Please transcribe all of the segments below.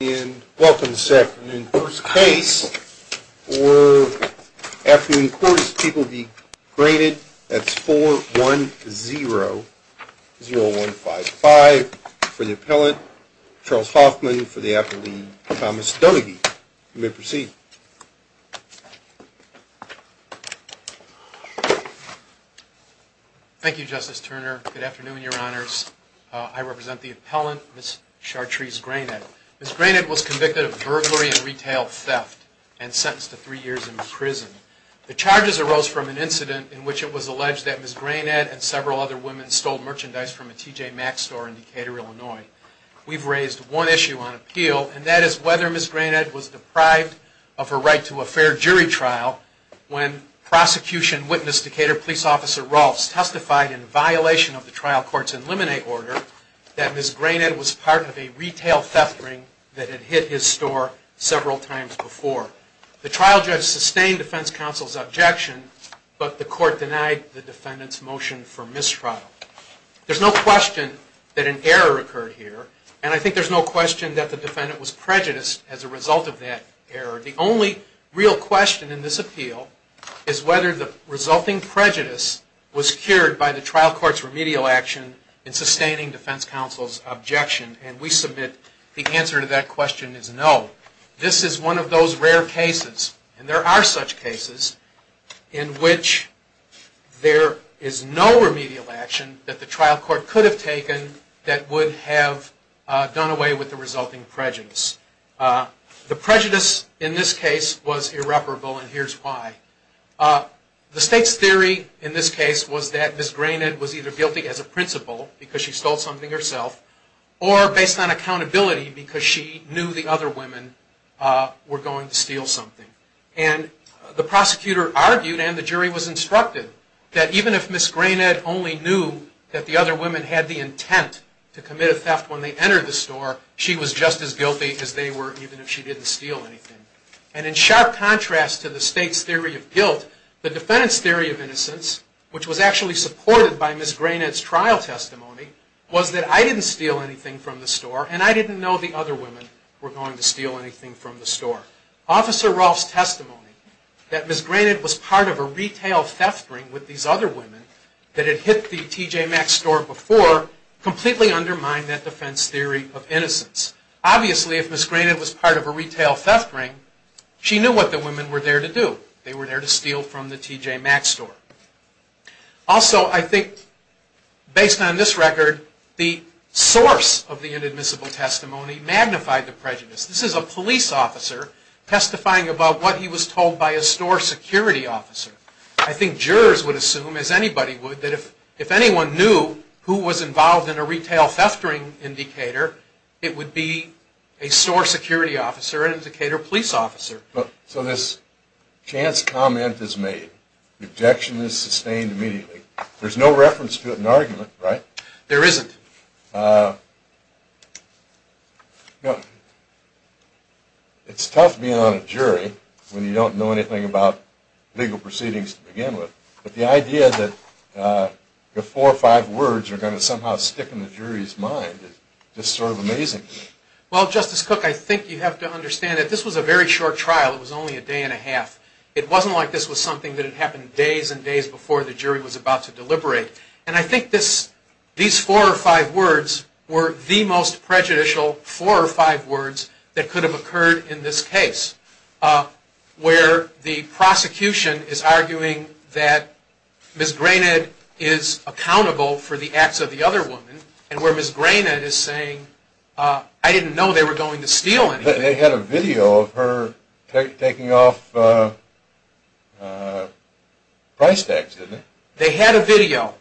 And welcome, Seth. And in first case, or afternoon course, people be graded. That's 4-1-0-0-1-5-5 for the appellant. Charles Hoffman for the appellee. Thomas Donaghy. You may proceed. Thank you, Justice Turner. Good afternoon, Your Honors. I represent the appellant, Ms. Chartrese Grayned. Ms. Grayned was convicted of burglary and retail theft and sentenced to three years in prison. The charges arose from an incident in which it was alleged that Ms. Grayned and several other women stole merchandise from a T.J. Maxx store in Decatur, Illinois. We've raised one issue on appeal, and that is whether Ms. Grayned was deprived of her right to a fair jury trial when prosecution witnessed Decatur Police Officer Rolfes testified in violation of the trial court's eliminate order that Ms. Grayned was part of a retail theft ring that had hit his store several times before. The trial judge sustained defense counsel's objection, but the court denied the defendant's motion for mistrial. There's no question that an error occurred here, and I think there's no question that the defendant was prejudiced as a result of that error. The only real question in this appeal is whether the resulting prejudice was cured by the trial court's remedial action in sustaining defense counsel's objection, and we submit the answer to that question is no. This is one of those rare cases, and there are such cases, in which there is no remedial action that the trial court could have taken that would have done away with the resulting prejudice. The prejudice in this case was irreparable, and here's why. The state's theory in this case was that Ms. Grayned was either guilty as a principal, because she stole something herself, or based on accountability, because she knew the other women were going to steal something. And the prosecutor argued, and the jury was instructed, that even if Ms. Grayned only knew that the other women had the intent to commit a theft when they entered the store, she was just as guilty as they were, even if she didn't steal anything. And in sharp contrast to the state's theory of guilt, the defendant's theory of innocence, which was actually supported by Ms. Grayned's trial testimony, was that I didn't steal anything from the store, and I didn't know the other women were going to steal anything from the store. Officer Rolfe's testimony, that Ms. Grayned was part of a retail theft ring with these other women that had hit the TJ Maxx store before, completely undermined that defense theory of innocence. Obviously, if Ms. Grayned was part of a retail theft ring, she knew what the women were there to do. They were there to steal from the TJ Maxx store. Also, I think, based on this record, the source of the inadmissible testimony magnified the prejudice. This is a police officer testifying about what he was told by a store security officer. I think jurors would assume, as anybody would, that if anyone knew who was involved in a retail theft ring in Decatur, it would be a store security officer, an Indicator police officer. So this chance comment is made. The objection is sustained immediately. There's no reference to it in the argument, right? There isn't. It's tough being on a jury when you don't know anything about legal proceedings to begin with, but the idea that the four or five words are going to somehow stick in the jury's mind is just sort of amazing. Well, Justice Cook, I think you have to understand that this was a very short trial. It was only a day and a half. It wasn't like this was something that had happened days and days before the jury was about to deliberate. And I think these four or five words were the most prejudicial four or five words that could have occurred in this case, where the prosecution is arguing that Ms. Granite is accountable for the acts of the other woman, and where Ms. Granite is saying, I didn't know they were going to steal anything. They had a video of her taking off price tags, didn't they? They had a video.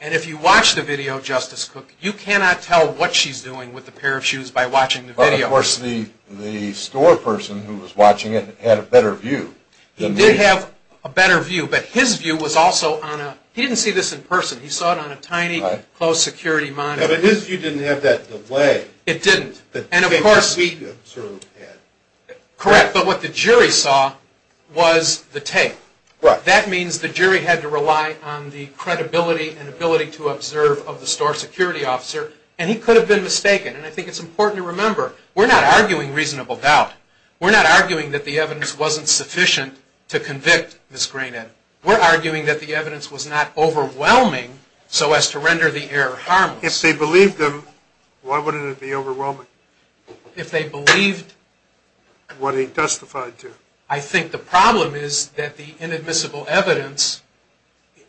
And if you watch the video, Justice Cook, you cannot tell what she's doing with the pair of shoes by watching the video. But of course, the store person who was watching it had a better view. He did have a better view, but his view was also on a – he didn't see this in person. He saw it on a tiny closed security monitor. But his view didn't have that delay. It didn't. And of course – The tape that we observed had. Correct, but what the jury saw was the tape. Right. That means the jury had to rely on the credibility and ability to observe of the store security officer, and he could have been mistaken. And I think it's important to remember, we're not arguing reasonable doubt. We're not arguing that the evidence wasn't sufficient to convict Ms. Granite. We're arguing that the evidence was not overwhelming so as to render the error harmless. If they believed him, why wouldn't it be overwhelming? If they believed – What he testified to. I think the problem is that the inadmissible evidence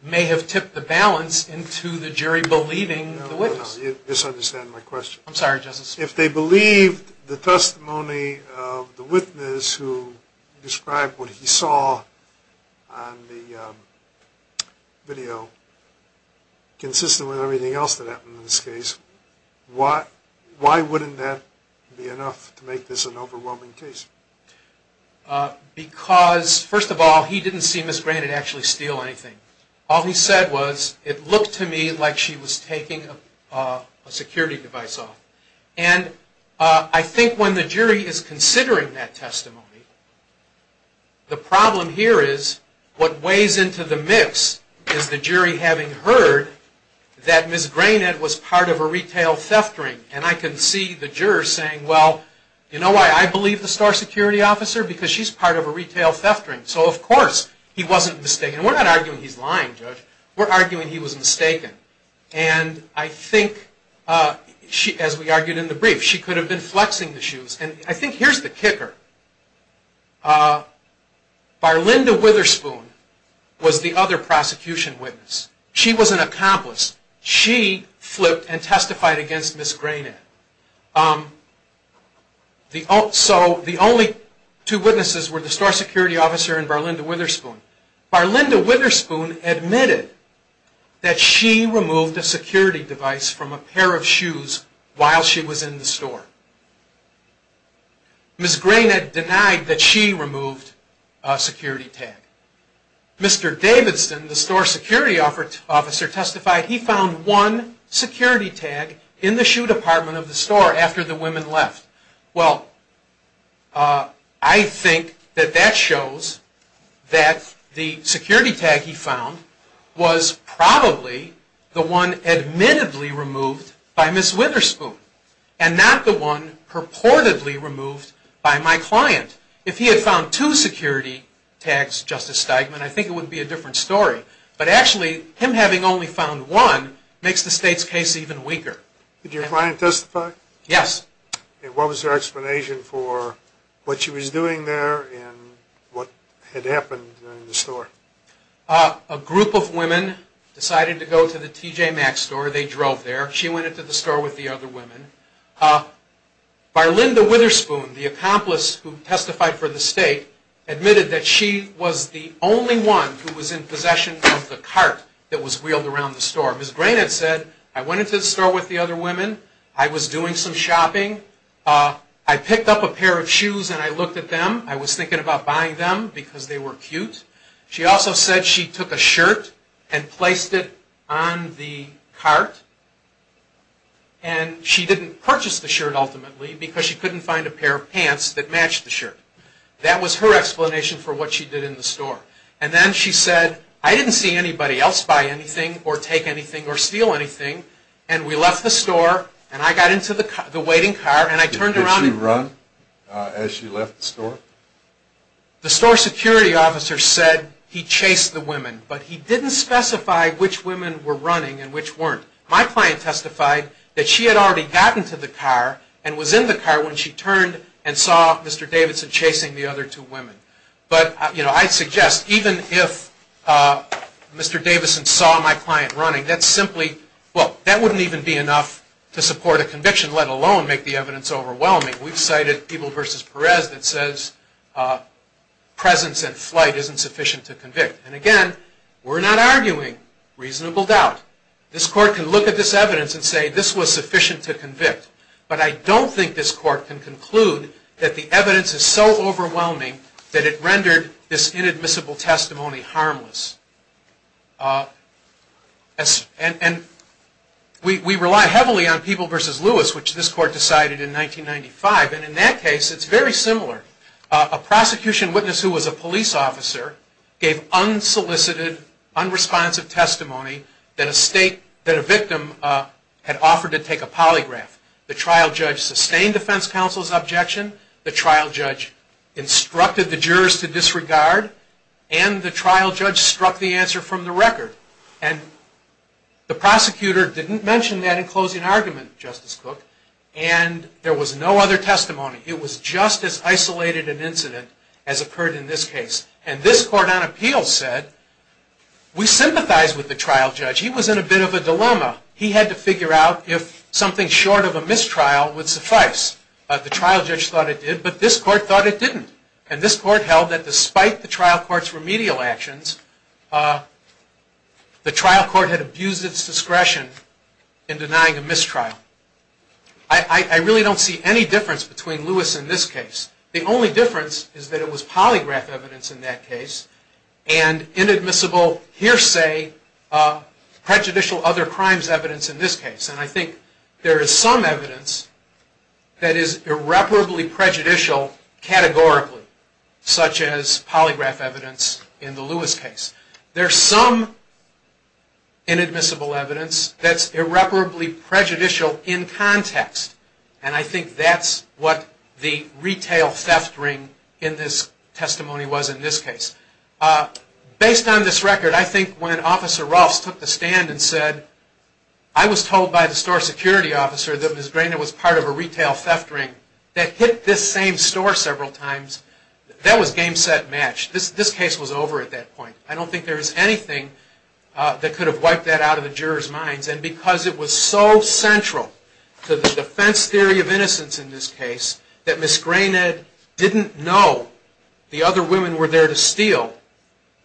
may have tipped the balance into the jury believing the witness. You're misunderstanding my question. I'm sorry, Justice. If they believed the testimony of the witness who described what he saw on the video consistent with everything else that happened in this case, why wouldn't that be enough to make this an overwhelming case? Because, first of all, he didn't see Ms. Granite actually steal anything. All he said was, it looked to me like she was taking a security device off. And I think when the jury is considering that testimony, the problem here is, what weighs into the mix is the jury having heard that Ms. Granite was part of a retail theft ring. And I can see the jurors saying, well, you know why I believe the store security officer? Because she's part of a retail theft ring. So, of course, he wasn't mistaken. We're not arguing he's lying, Judge. We're arguing he was mistaken. And I think, as we argued in the brief, she could have been flexing the shoes. And I think here's the kicker. Barlinda Witherspoon was the other prosecution witness. She was an accomplice. She flipped and testified against Ms. Granite. So the only two witnesses were the store security officer and Barlinda Witherspoon. Barlinda Witherspoon admitted that she removed a security device from a pair of shoes while she was in the store. Ms. Granite denied that she removed a security tag. Mr. Davidson, the store security officer, testified he found one security tag in the shoe department of the store after the women left. Well, I think that that shows that the security tag he found was probably the one admittedly removed by Ms. Witherspoon and not the one purportedly removed by my client. If he had found two security tags, Justice Steigman, I think it would be a different story. But actually, him having only found one makes the state's case even weaker. Did your client testify? Yes. And what was her explanation for what she was doing there and what had happened in the store? A group of women decided to go to the TJ Maxx store. They drove there. She went into the store with the other women. Barlinda Witherspoon, the accomplice who testified for the state, admitted that she was the only one who was in possession of the cart that was wheeled around the store. Ms. Granite said, I went into the store with the other women. I was doing some shopping. I picked up a pair of shoes and I looked at them. I was thinking about buying them because they were cute. She also said she took a shirt and placed it on the cart. And she didn't purchase the shirt ultimately because she couldn't find a pair of pants that matched the shirt. That was her explanation for what she did in the store. And then she said, I didn't see anybody else buy anything or take anything or steal anything. And we left the store and I got into the waiting car and I turned around. Did she run as she left the store? The store security officer said he chased the women. But he didn't specify which women were running and which weren't. My client testified that she had already gotten to the car and was in the car when she turned and saw Mr. Davidson chasing the other two women. But, you know, I suggest even if Mr. Davidson saw my client running, that simply, well, that wouldn't even be enough to support a conviction, let alone make the evidence overwhelming. We've cited Eble v. Perez that says presence and flight isn't sufficient to convict. And, again, we're not arguing reasonable doubt. This court can look at this evidence and say this was sufficient to convict. But I don't think this court can conclude that the evidence is so overwhelming that it rendered this inadmissible testimony harmless. And we rely heavily on Eble v. Lewis, which this court decided in 1995. And in that case, it's very similar. A prosecution witness who was a police officer gave unsolicited, unresponsive testimony that a victim had offered to take a polygraph. The trial judge sustained defense counsel's objection. The trial judge instructed the jurors to disregard. And the trial judge struck the answer from the record. And the prosecutor didn't mention that in closing argument, Justice Cook. And there was no other testimony. It was just as isolated an incident as occurred in this case. And this court on appeal said, we sympathize with the trial judge. He was in a bit of a dilemma. He had to figure out if something short of a mistrial would suffice. The trial judge thought it did, but this court thought it didn't. And this court held that despite the trial court's remedial actions, the trial court had abused its discretion in denying a mistrial. I really don't see any difference between Lewis and this case. The only difference is that it was polygraph evidence in that case and inadmissible hearsay prejudicial other crimes evidence in this case. And I think there is some evidence that is irreparably prejudicial categorically, such as polygraph evidence in the Lewis case. There's some inadmissible evidence that's irreparably prejudicial in context. And I think that's what the retail theft ring in this testimony was in this case. Based on this record, I think when Officer Rolfes took the stand and said, I was told by the store security officer that Ms. Grainer was part of a retail theft ring that hit this same store several times, that was game, set, match. This case was over at that point. I don't think there is anything that could have wiped that out of the jurors' minds. And because it was so central to the defense theory of innocence in this case, that Ms. Grainer didn't know the other women were there to steal,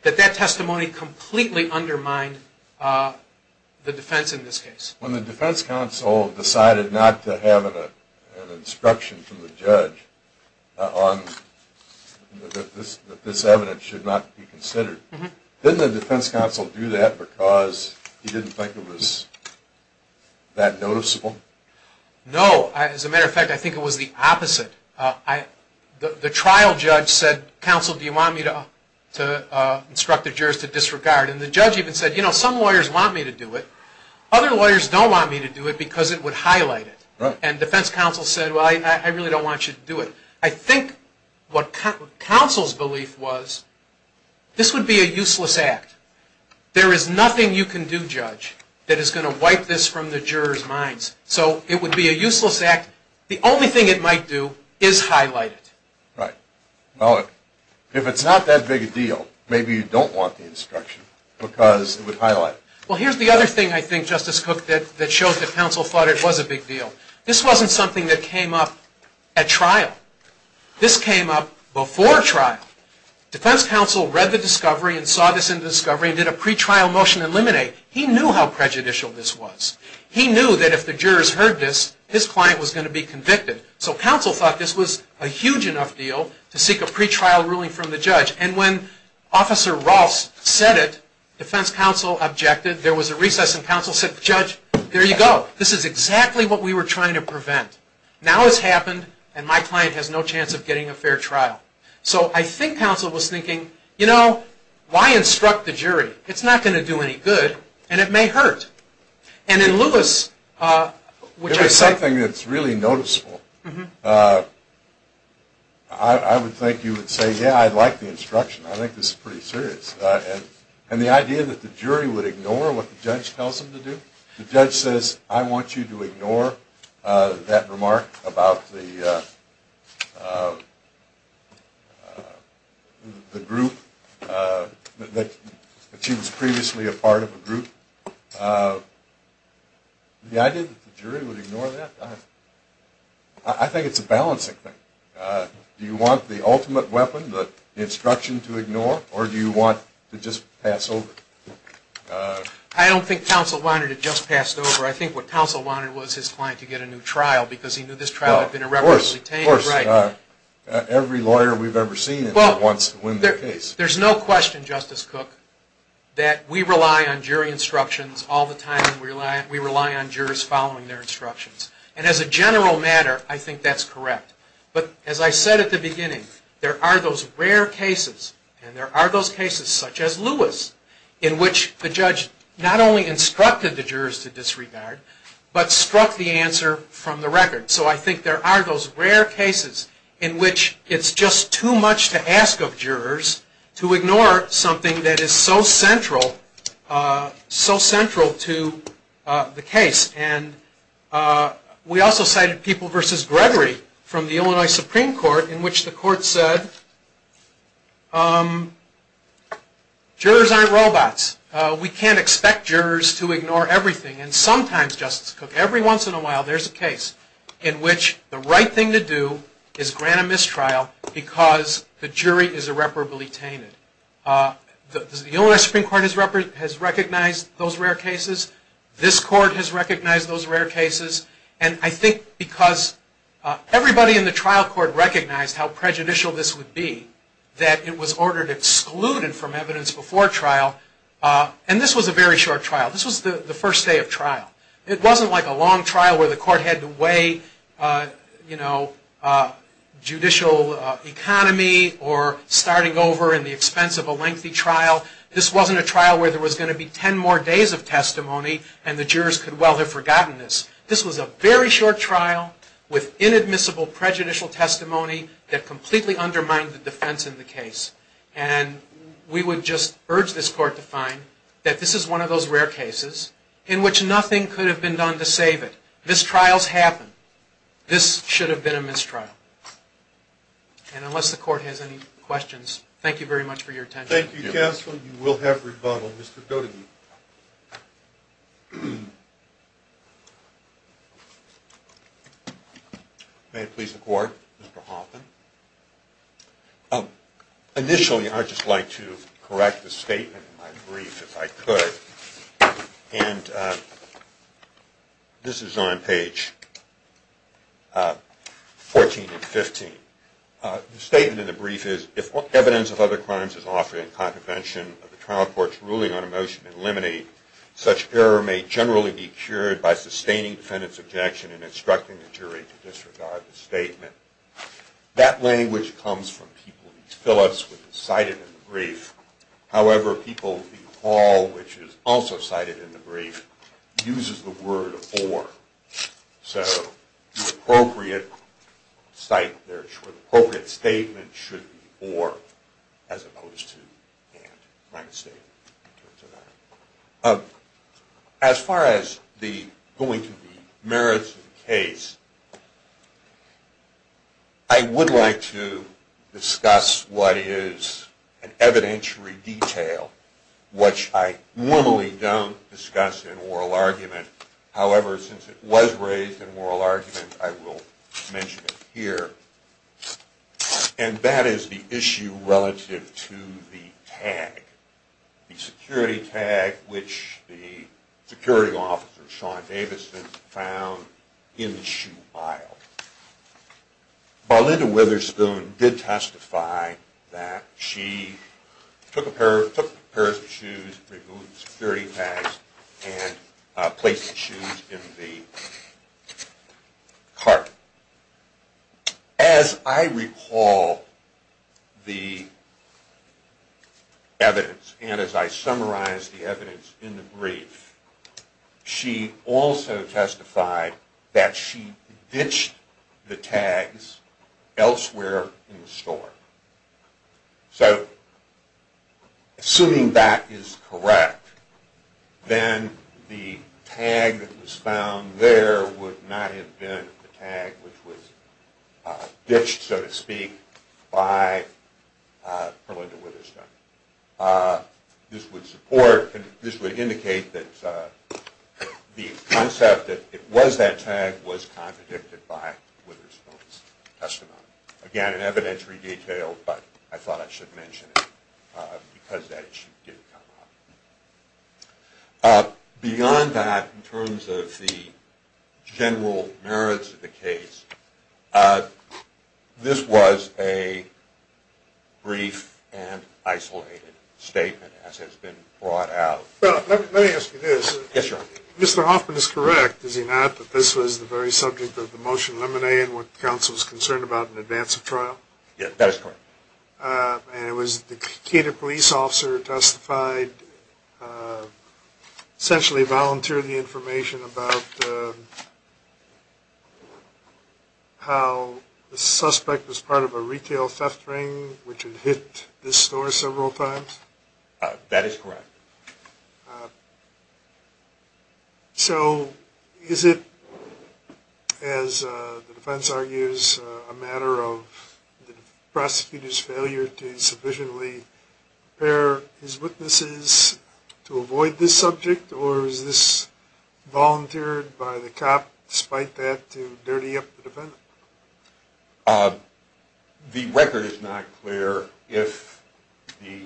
that that testimony completely undermined the defense in this case. When the defense counsel decided not to have an instruction from the judge that this evidence should not be considered, didn't the defense counsel do that because he didn't think it was that noticeable? No. As a matter of fact, I think it was the opposite. The trial judge said, counsel, do you want me to instruct the jurors to disregard? And the judge even said, you know, some lawyers want me to do it. Other lawyers don't want me to do it because it would highlight it. And defense counsel said, well, I really don't want you to do it. I think what counsel's belief was, this would be a useless act. There is nothing you can do, judge, that is going to wipe this from the jurors' minds. So it would be a useless act. The only thing it might do is highlight it. Right. Well, if it's not that big a deal, maybe you don't want the instruction because it would highlight it. Well, here's the other thing, I think, Justice Cook, that shows that counsel thought it was a big deal. This wasn't something that came up at trial. This came up before trial. Defense counsel read the discovery and saw this in the discovery and did a pretrial motion to eliminate. He knew how prejudicial this was. He knew that if the jurors heard this, his client was going to be convicted. So counsel thought this was a huge enough deal to seek a pretrial ruling from the judge. And when Officer Ross said it, defense counsel objected. There was a recess and counsel said, judge, there you go. This is exactly what we were trying to prevent. Now it's happened, and my client has no chance of getting a fair trial. So I think counsel was thinking, you know, why instruct the jury? It's not going to do any good, and it may hurt. And in Lewis, which I said… It was something that's really noticeable. I would think you would say, yeah, I like the instruction. I think this is pretty serious. And the idea that the jury would ignore what the judge tells them to do? The judge says, I want you to ignore that remark about the group, that she was previously a part of a group. The idea that the jury would ignore that, I think it's a balancing thing. Do you want the ultimate weapon, the instruction, to ignore, or do you want to just pass over? I don't think counsel wanted it just passed over. I think what counsel wanted was his client to get a new trial because he knew this trial had been irreparably tainted. Of course. Every lawyer we've ever seen wants to win their case. There's no question, Justice Cook, that we rely on jury instructions all the time, and we rely on jurors following their instructions. And as a general matter, I think that's correct. But as I said at the beginning, there are those rare cases, and there are those cases such as Lewis, in which the judge not only instructed the jurors to disregard, but struck the answer from the record. So I think there are those rare cases in which it's just too much to ask of jurors to ignore something that is so central to the case. And we also cited People v. Gregory from the Illinois Supreme Court in which the court said jurors aren't robots. We can't expect jurors to ignore everything. And sometimes, Justice Cook, every once in a while there's a case in which the right thing to do is grant a mistrial because the jury is irreparably tainted. The Illinois Supreme Court has recognized those rare cases. This court has recognized those rare cases. And I think because everybody in the trial court recognized how prejudicial this would be, that it was ordered excluded from evidence before trial. And this was a very short trial. This was the first day of trial. It wasn't like a long trial where the court had to weigh, you know, judicial economy or starting over in the expense of a lengthy trial. This wasn't a trial where there was going to be ten more days of testimony, and the jurors could well have forgotten this. This was a very short trial with inadmissible prejudicial testimony that completely undermined the defense in the case. And we would just urge this court to find that this is one of those rare cases in which nothing could have been done to save it. Mistrials happen. This should have been a mistrial. And unless the court has any questions, thank you very much for your attention. Thank you, counsel. You will have rebuttal. Mr. Doty. May it please the court, Mr. Hoffman. Initially, I'd just like to correct a statement in my brief, if I could. And this is on page 14 and 15. The statement in the brief is, if evidence of other crimes is offered in contravention of the trial court's ruling on a motion to eliminate, such error may generally be cured by sustaining defendant's objection and instructing the jury to disregard the statement. That language comes from people like Phillips, which is cited in the brief. However, people like Hall, which is also cited in the brief, uses the word or. So the appropriate statement should be or, as opposed to and. As far as going to the merits of the case, I would like to discuss what is an evidentiary detail, which I normally don't discuss in oral argument. However, since it was raised in oral argument, I will mention it here. And that is the issue relative to the tag, the security tag, which the security officer, Sean Davison, found in the shoe pile. Marlinda Witherspoon did testify that she took a pair of shoes, removed the security tags, and placed the shoes in the cart. As I recall the evidence, and as I summarize the evidence in the brief, she also testified that she ditched the tags elsewhere in the store. So assuming that is correct, then the tag that was found there would not have been the tag which was ditched, so to speak, by Marlinda Witherspoon. This would indicate that the concept that it was that tag was contradicted by Witherspoon's testimony. Again, an evidentiary detail, but I thought I should mention it because that issue did come up. Beyond that, in terms of the general merits of the case, this was a brief and isolated statement, as has been brought out. Let me ask you this. Mr. Hoffman is correct, is he not, that this was the very subject of the motion lemonade and what the council was concerned about in advance of trial? Yes, that is correct. And it was the Cato police officer who testified, essentially volunteered the information about how the suspect was part of a retail theft ring, which had hit this store several times? That is correct. So is it, as the defense argues, a matter of the prosecutor's failure to sufficiently prepare his witnesses to avoid this subject, or is this volunteered by the cop, despite that, to dirty up the defendant? The record is not clear if the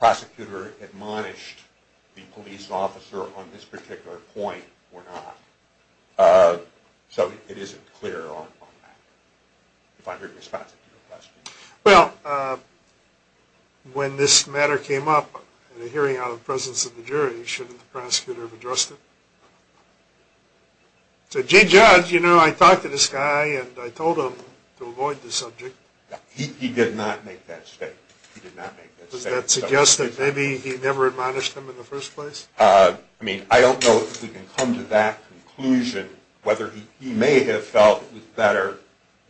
prosecutor admonished the police officer on this particular point or not. So it isn't clear on that, if I'm being responsive to your question. Well, when this matter came up in a hearing out of the presence of the jury, shouldn't the prosecutor have addressed it? So, Judge, I talked to this guy and I told him to avoid the subject. He did not make that statement. Does that suggest that maybe he never admonished him in the first place? I mean, I don't know if we can come to that conclusion, whether he may have felt it was better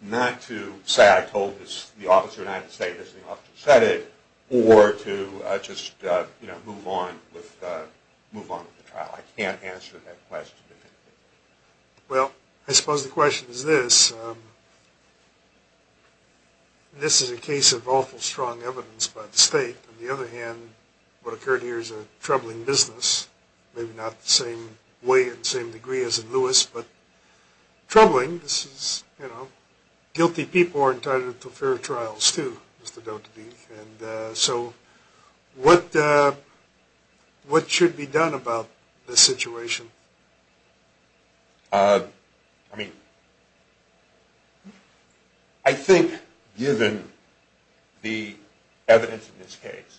not to say, I told the officer not to say this and the officer said it, or to just move on with the trial. I can't answer that question. Well, I suppose the question is this. This is a case of awful strong evidence by the state. On the other hand, what occurred here is a troubling business, maybe not the same way and same degree as in Lewis, but troubling. Guilty people are entitled to fair trials too, there's no doubt to be. So, what should be done about this situation? I mean, I think given the evidence in this case,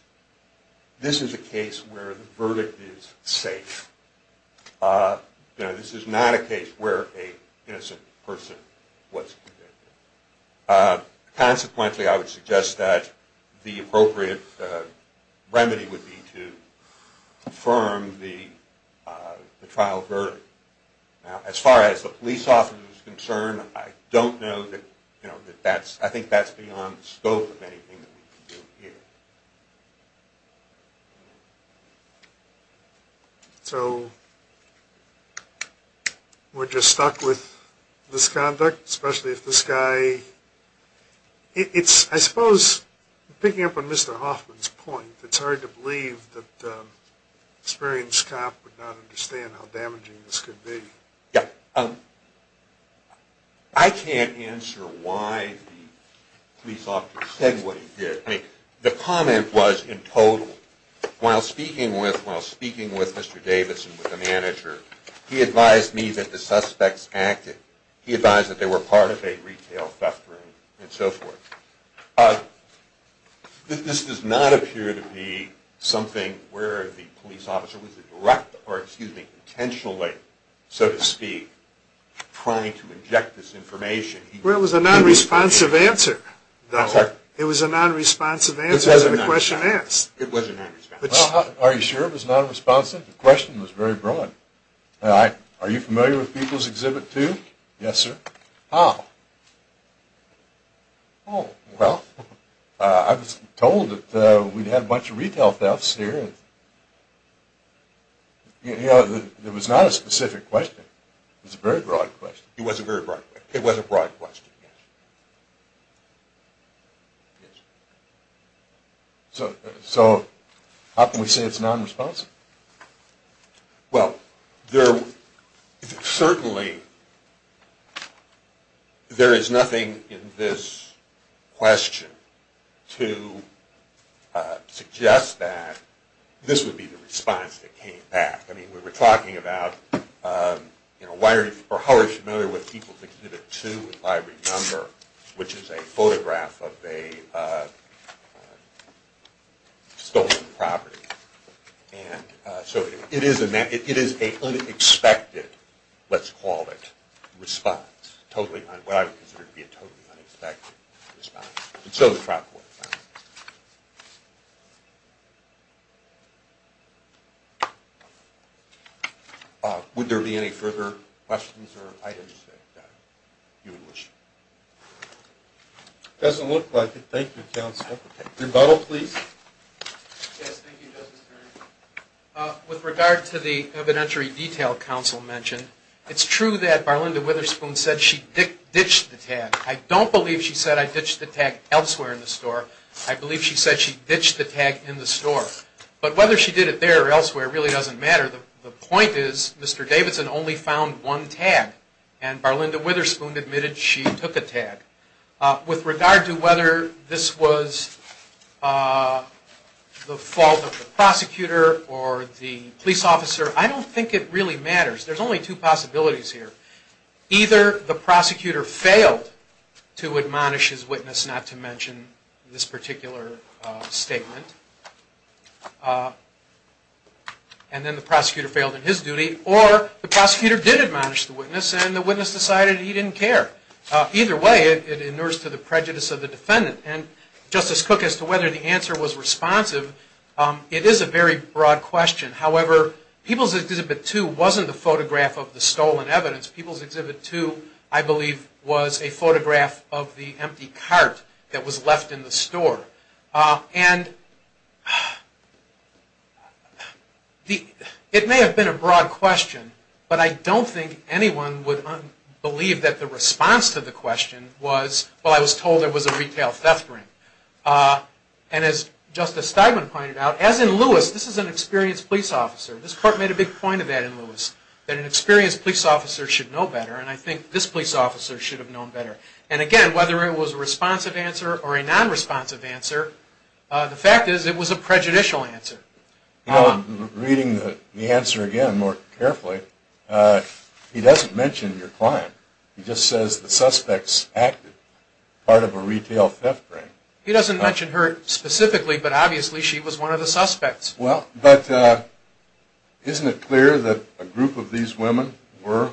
this is a case where the verdict is safe. This is not a case where an innocent person was convicted. Consequently, I would suggest that the appropriate remedy would be to confirm the trial verdict. Now, as far as the police officer is concerned, I don't know that, you know, that that's, I think that's beyond the scope of anything that we can do here. So, we're just stuck with this conduct, especially if this guy, it's, I suppose, picking up on Mr. Hoffman's point, it's hard to believe that an experienced cop would not understand how damaging this could be. Yeah. I can't answer why the police officer said what he did. I mean, the comment was, in total, while speaking with Mr. Davidson, the manager, he advised me that the suspects acted. He advised that they were part of a retail theft ring and so forth. This does not appear to be something where the police officer was a direct, or excuse me, intentionally, so to speak, trying to inject this information. Well, it was a non-responsive answer, though. I'm sorry? It was a non-responsive answer to the question asked. It was a non-responsive answer. Well, are you sure it was non-responsive? The question was very broad. Are you familiar with People's Exhibit 2? Yes, sir. How? Well, I was told that we'd had a bunch of retail thefts here. You know, it was not a specific question. It was a very broad question. It was a very broad question. It was a broad question, yes. So how can we say it's non-responsive? Well, certainly there is nothing in this question to suggest that this would be the response that came back. I mean, we were talking about, you know, how are you familiar with People's Exhibit 2, if I remember, which is a photograph of a stolen property. And so it is an unexpected, let's call it, response, what I would consider to be a totally unexpected response. And so is Prop 45. Would there be any further questions or items that you would wish? Doesn't look like it. Thank you, counsel. Rebuttal, please. Yes, thank you, Justice Bernstein. With regard to the evidentiary detail counsel mentioned, it's true that Barlinda Witherspoon said she ditched the tag. I don't believe she said I ditched the tag elsewhere in the store. I believe she said she ditched the tag in the store. But whether she did it there or elsewhere really doesn't matter. The point is Mr. Davidson only found one tag, and Barlinda Witherspoon admitted she took a tag. With regard to whether this was the fault of the prosecutor or the police officer, I don't think it really matters. There's only two possibilities here. Either the prosecutor failed to admonish his witness, not to mention this particular statement, and then the prosecutor failed in his duty, or the prosecutor did admonish the witness and the witness decided he didn't care. Either way, it inures to the prejudice of the defendant. And Justice Cook, as to whether the answer was responsive, it is a very broad question. However, People's Exhibit 2 wasn't the photograph of the stolen evidence. People's Exhibit 2, I believe, was a photograph of the empty cart that was left in the store. And it may have been a broad question, but I don't think anyone would believe that the response to the question was, well, I was told it was a retail theft ring. And as Justice Steigman pointed out, as in Lewis, this is an experienced police officer. This court made a big point of that in Lewis, that an experienced police officer should know better, and I think this police officer should have known better. And, again, whether it was a responsive answer or a nonresponsive answer, the fact is it was a prejudicial answer. I'm reading the answer again more carefully. He doesn't mention your client. He just says the suspects acted as part of a retail theft ring. He doesn't mention her specifically, but obviously she was one of the suspects. Well, but isn't it clear that a group of these women were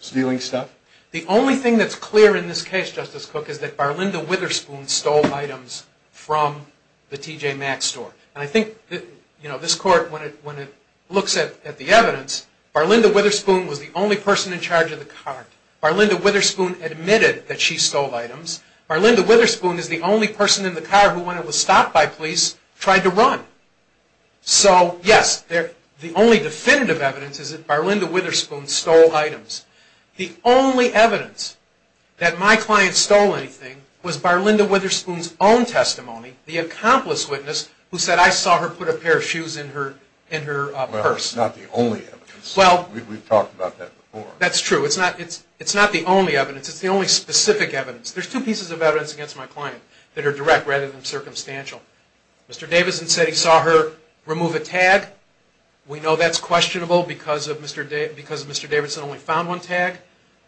stealing stuff? The only thing that's clear in this case, Justice Cook, is that Barlinda Witherspoon stole items from the TJ Maxx store. And I think this court, when it looks at the evidence, Barlinda Witherspoon was the only person in charge of the cart. Barlinda Witherspoon admitted that she stole items. Barlinda Witherspoon is the only person in the car who, when it was stopped by police, tried to run. So, yes, the only definitive evidence is that Barlinda Witherspoon stole items. The only evidence that my client stole anything was Barlinda Witherspoon's own testimony, the accomplice witness, who said, I saw her put a pair of shoes in her purse. Well, it's not the only evidence. We've talked about that before. That's true. It's not the only evidence. It's the only specific evidence. There's two pieces of evidence against my client that are direct rather than circumstantial. Mr. Davidson said he saw her remove a tag. We know that's questionable because Mr. Davidson only found one tag.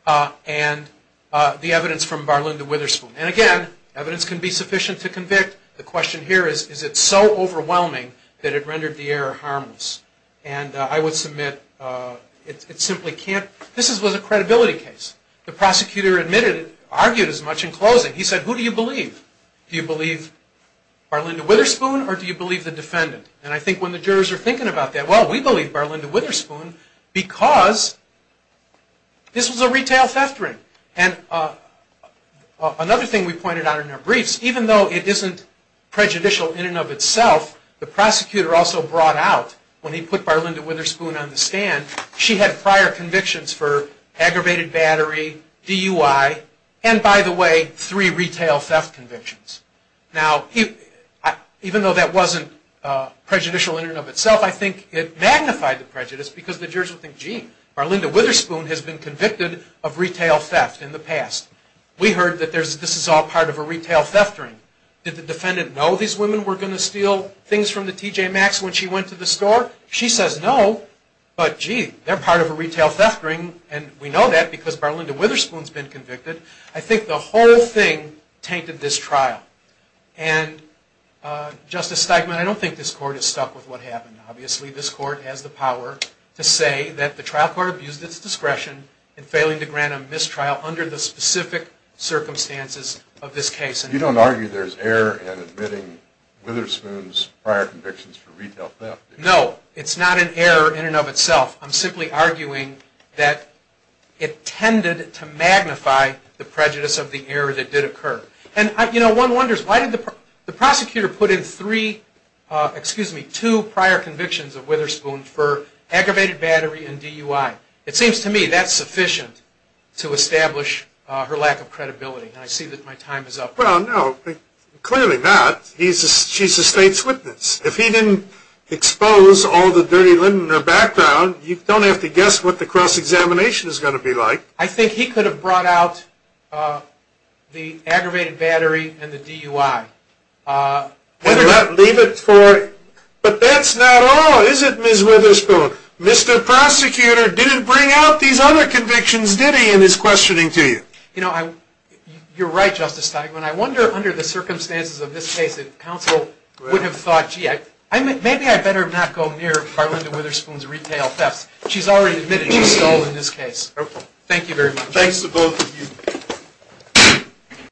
And the evidence from Barlinda Witherspoon. And, again, evidence can be sufficient to convict. The question here is, is it so overwhelming that it rendered the error harmless? And I would submit it simply can't. This was a credibility case. The prosecutor admitted, argued as much in closing. He said, who do you believe? Do you believe Barlinda Witherspoon or do you believe the defendant? And I think when the jurors are thinking about that, well, we believe Barlinda Witherspoon because this was a retail theft ring. And another thing we pointed out in our briefs, even though it isn't prejudicial in and of itself, the prosecutor also brought out, when he put Barlinda Witherspoon on the stand, she had prior convictions for aggravated battery, DUI, and, by the way, three retail theft convictions. Now, even though that wasn't prejudicial in and of itself, I think it magnified the prejudice because the jurors would think, gee, Barlinda Witherspoon has been convicted of retail theft in the past. We heard that this is all part of a retail theft ring. Did the defendant know these women were going to steal things from the TJ Maxx when she went to the store? She says no, but, gee, they're part of a retail theft ring, and we know that because Barlinda Witherspoon's been convicted. I think the whole thing tainted this trial. And, Justice Steigman, I don't think this court is stuck with what happened. Obviously, this court has the power to say that the trial court abused its discretion in failing to grant a mistrial under the specific circumstances of this case. You don't argue there's error in admitting Witherspoon's prior convictions for retail theft? No, it's not an error in and of itself. I'm simply arguing that it tended to magnify the prejudice of the error that did occur. And, you know, one wonders, why did the prosecutor put in three, excuse me, two prior convictions of Witherspoon for aggravated battery and DUI? It seems to me that's sufficient to establish her lack of credibility, and I see that my time is up. Well, no, clearly not. She's the state's witness. If he didn't expose all the dirty linen in her background, you don't have to guess what the cross-examination is going to be like. I think he could have brought out the aggravated battery and the DUI. And leave it for, but that's not all, is it, Ms. Witherspoon? Mr. Prosecutor didn't bring out these other convictions, did he, in his questioning to you? You know, you're right, Justice Steigman. I wonder, under the circumstances of this case, if counsel would have thought, gee, maybe I better not go near Carlinda Witherspoon's retail thefts. She's already admitted she stole in this case. Thank you very much. Thanks to both of you.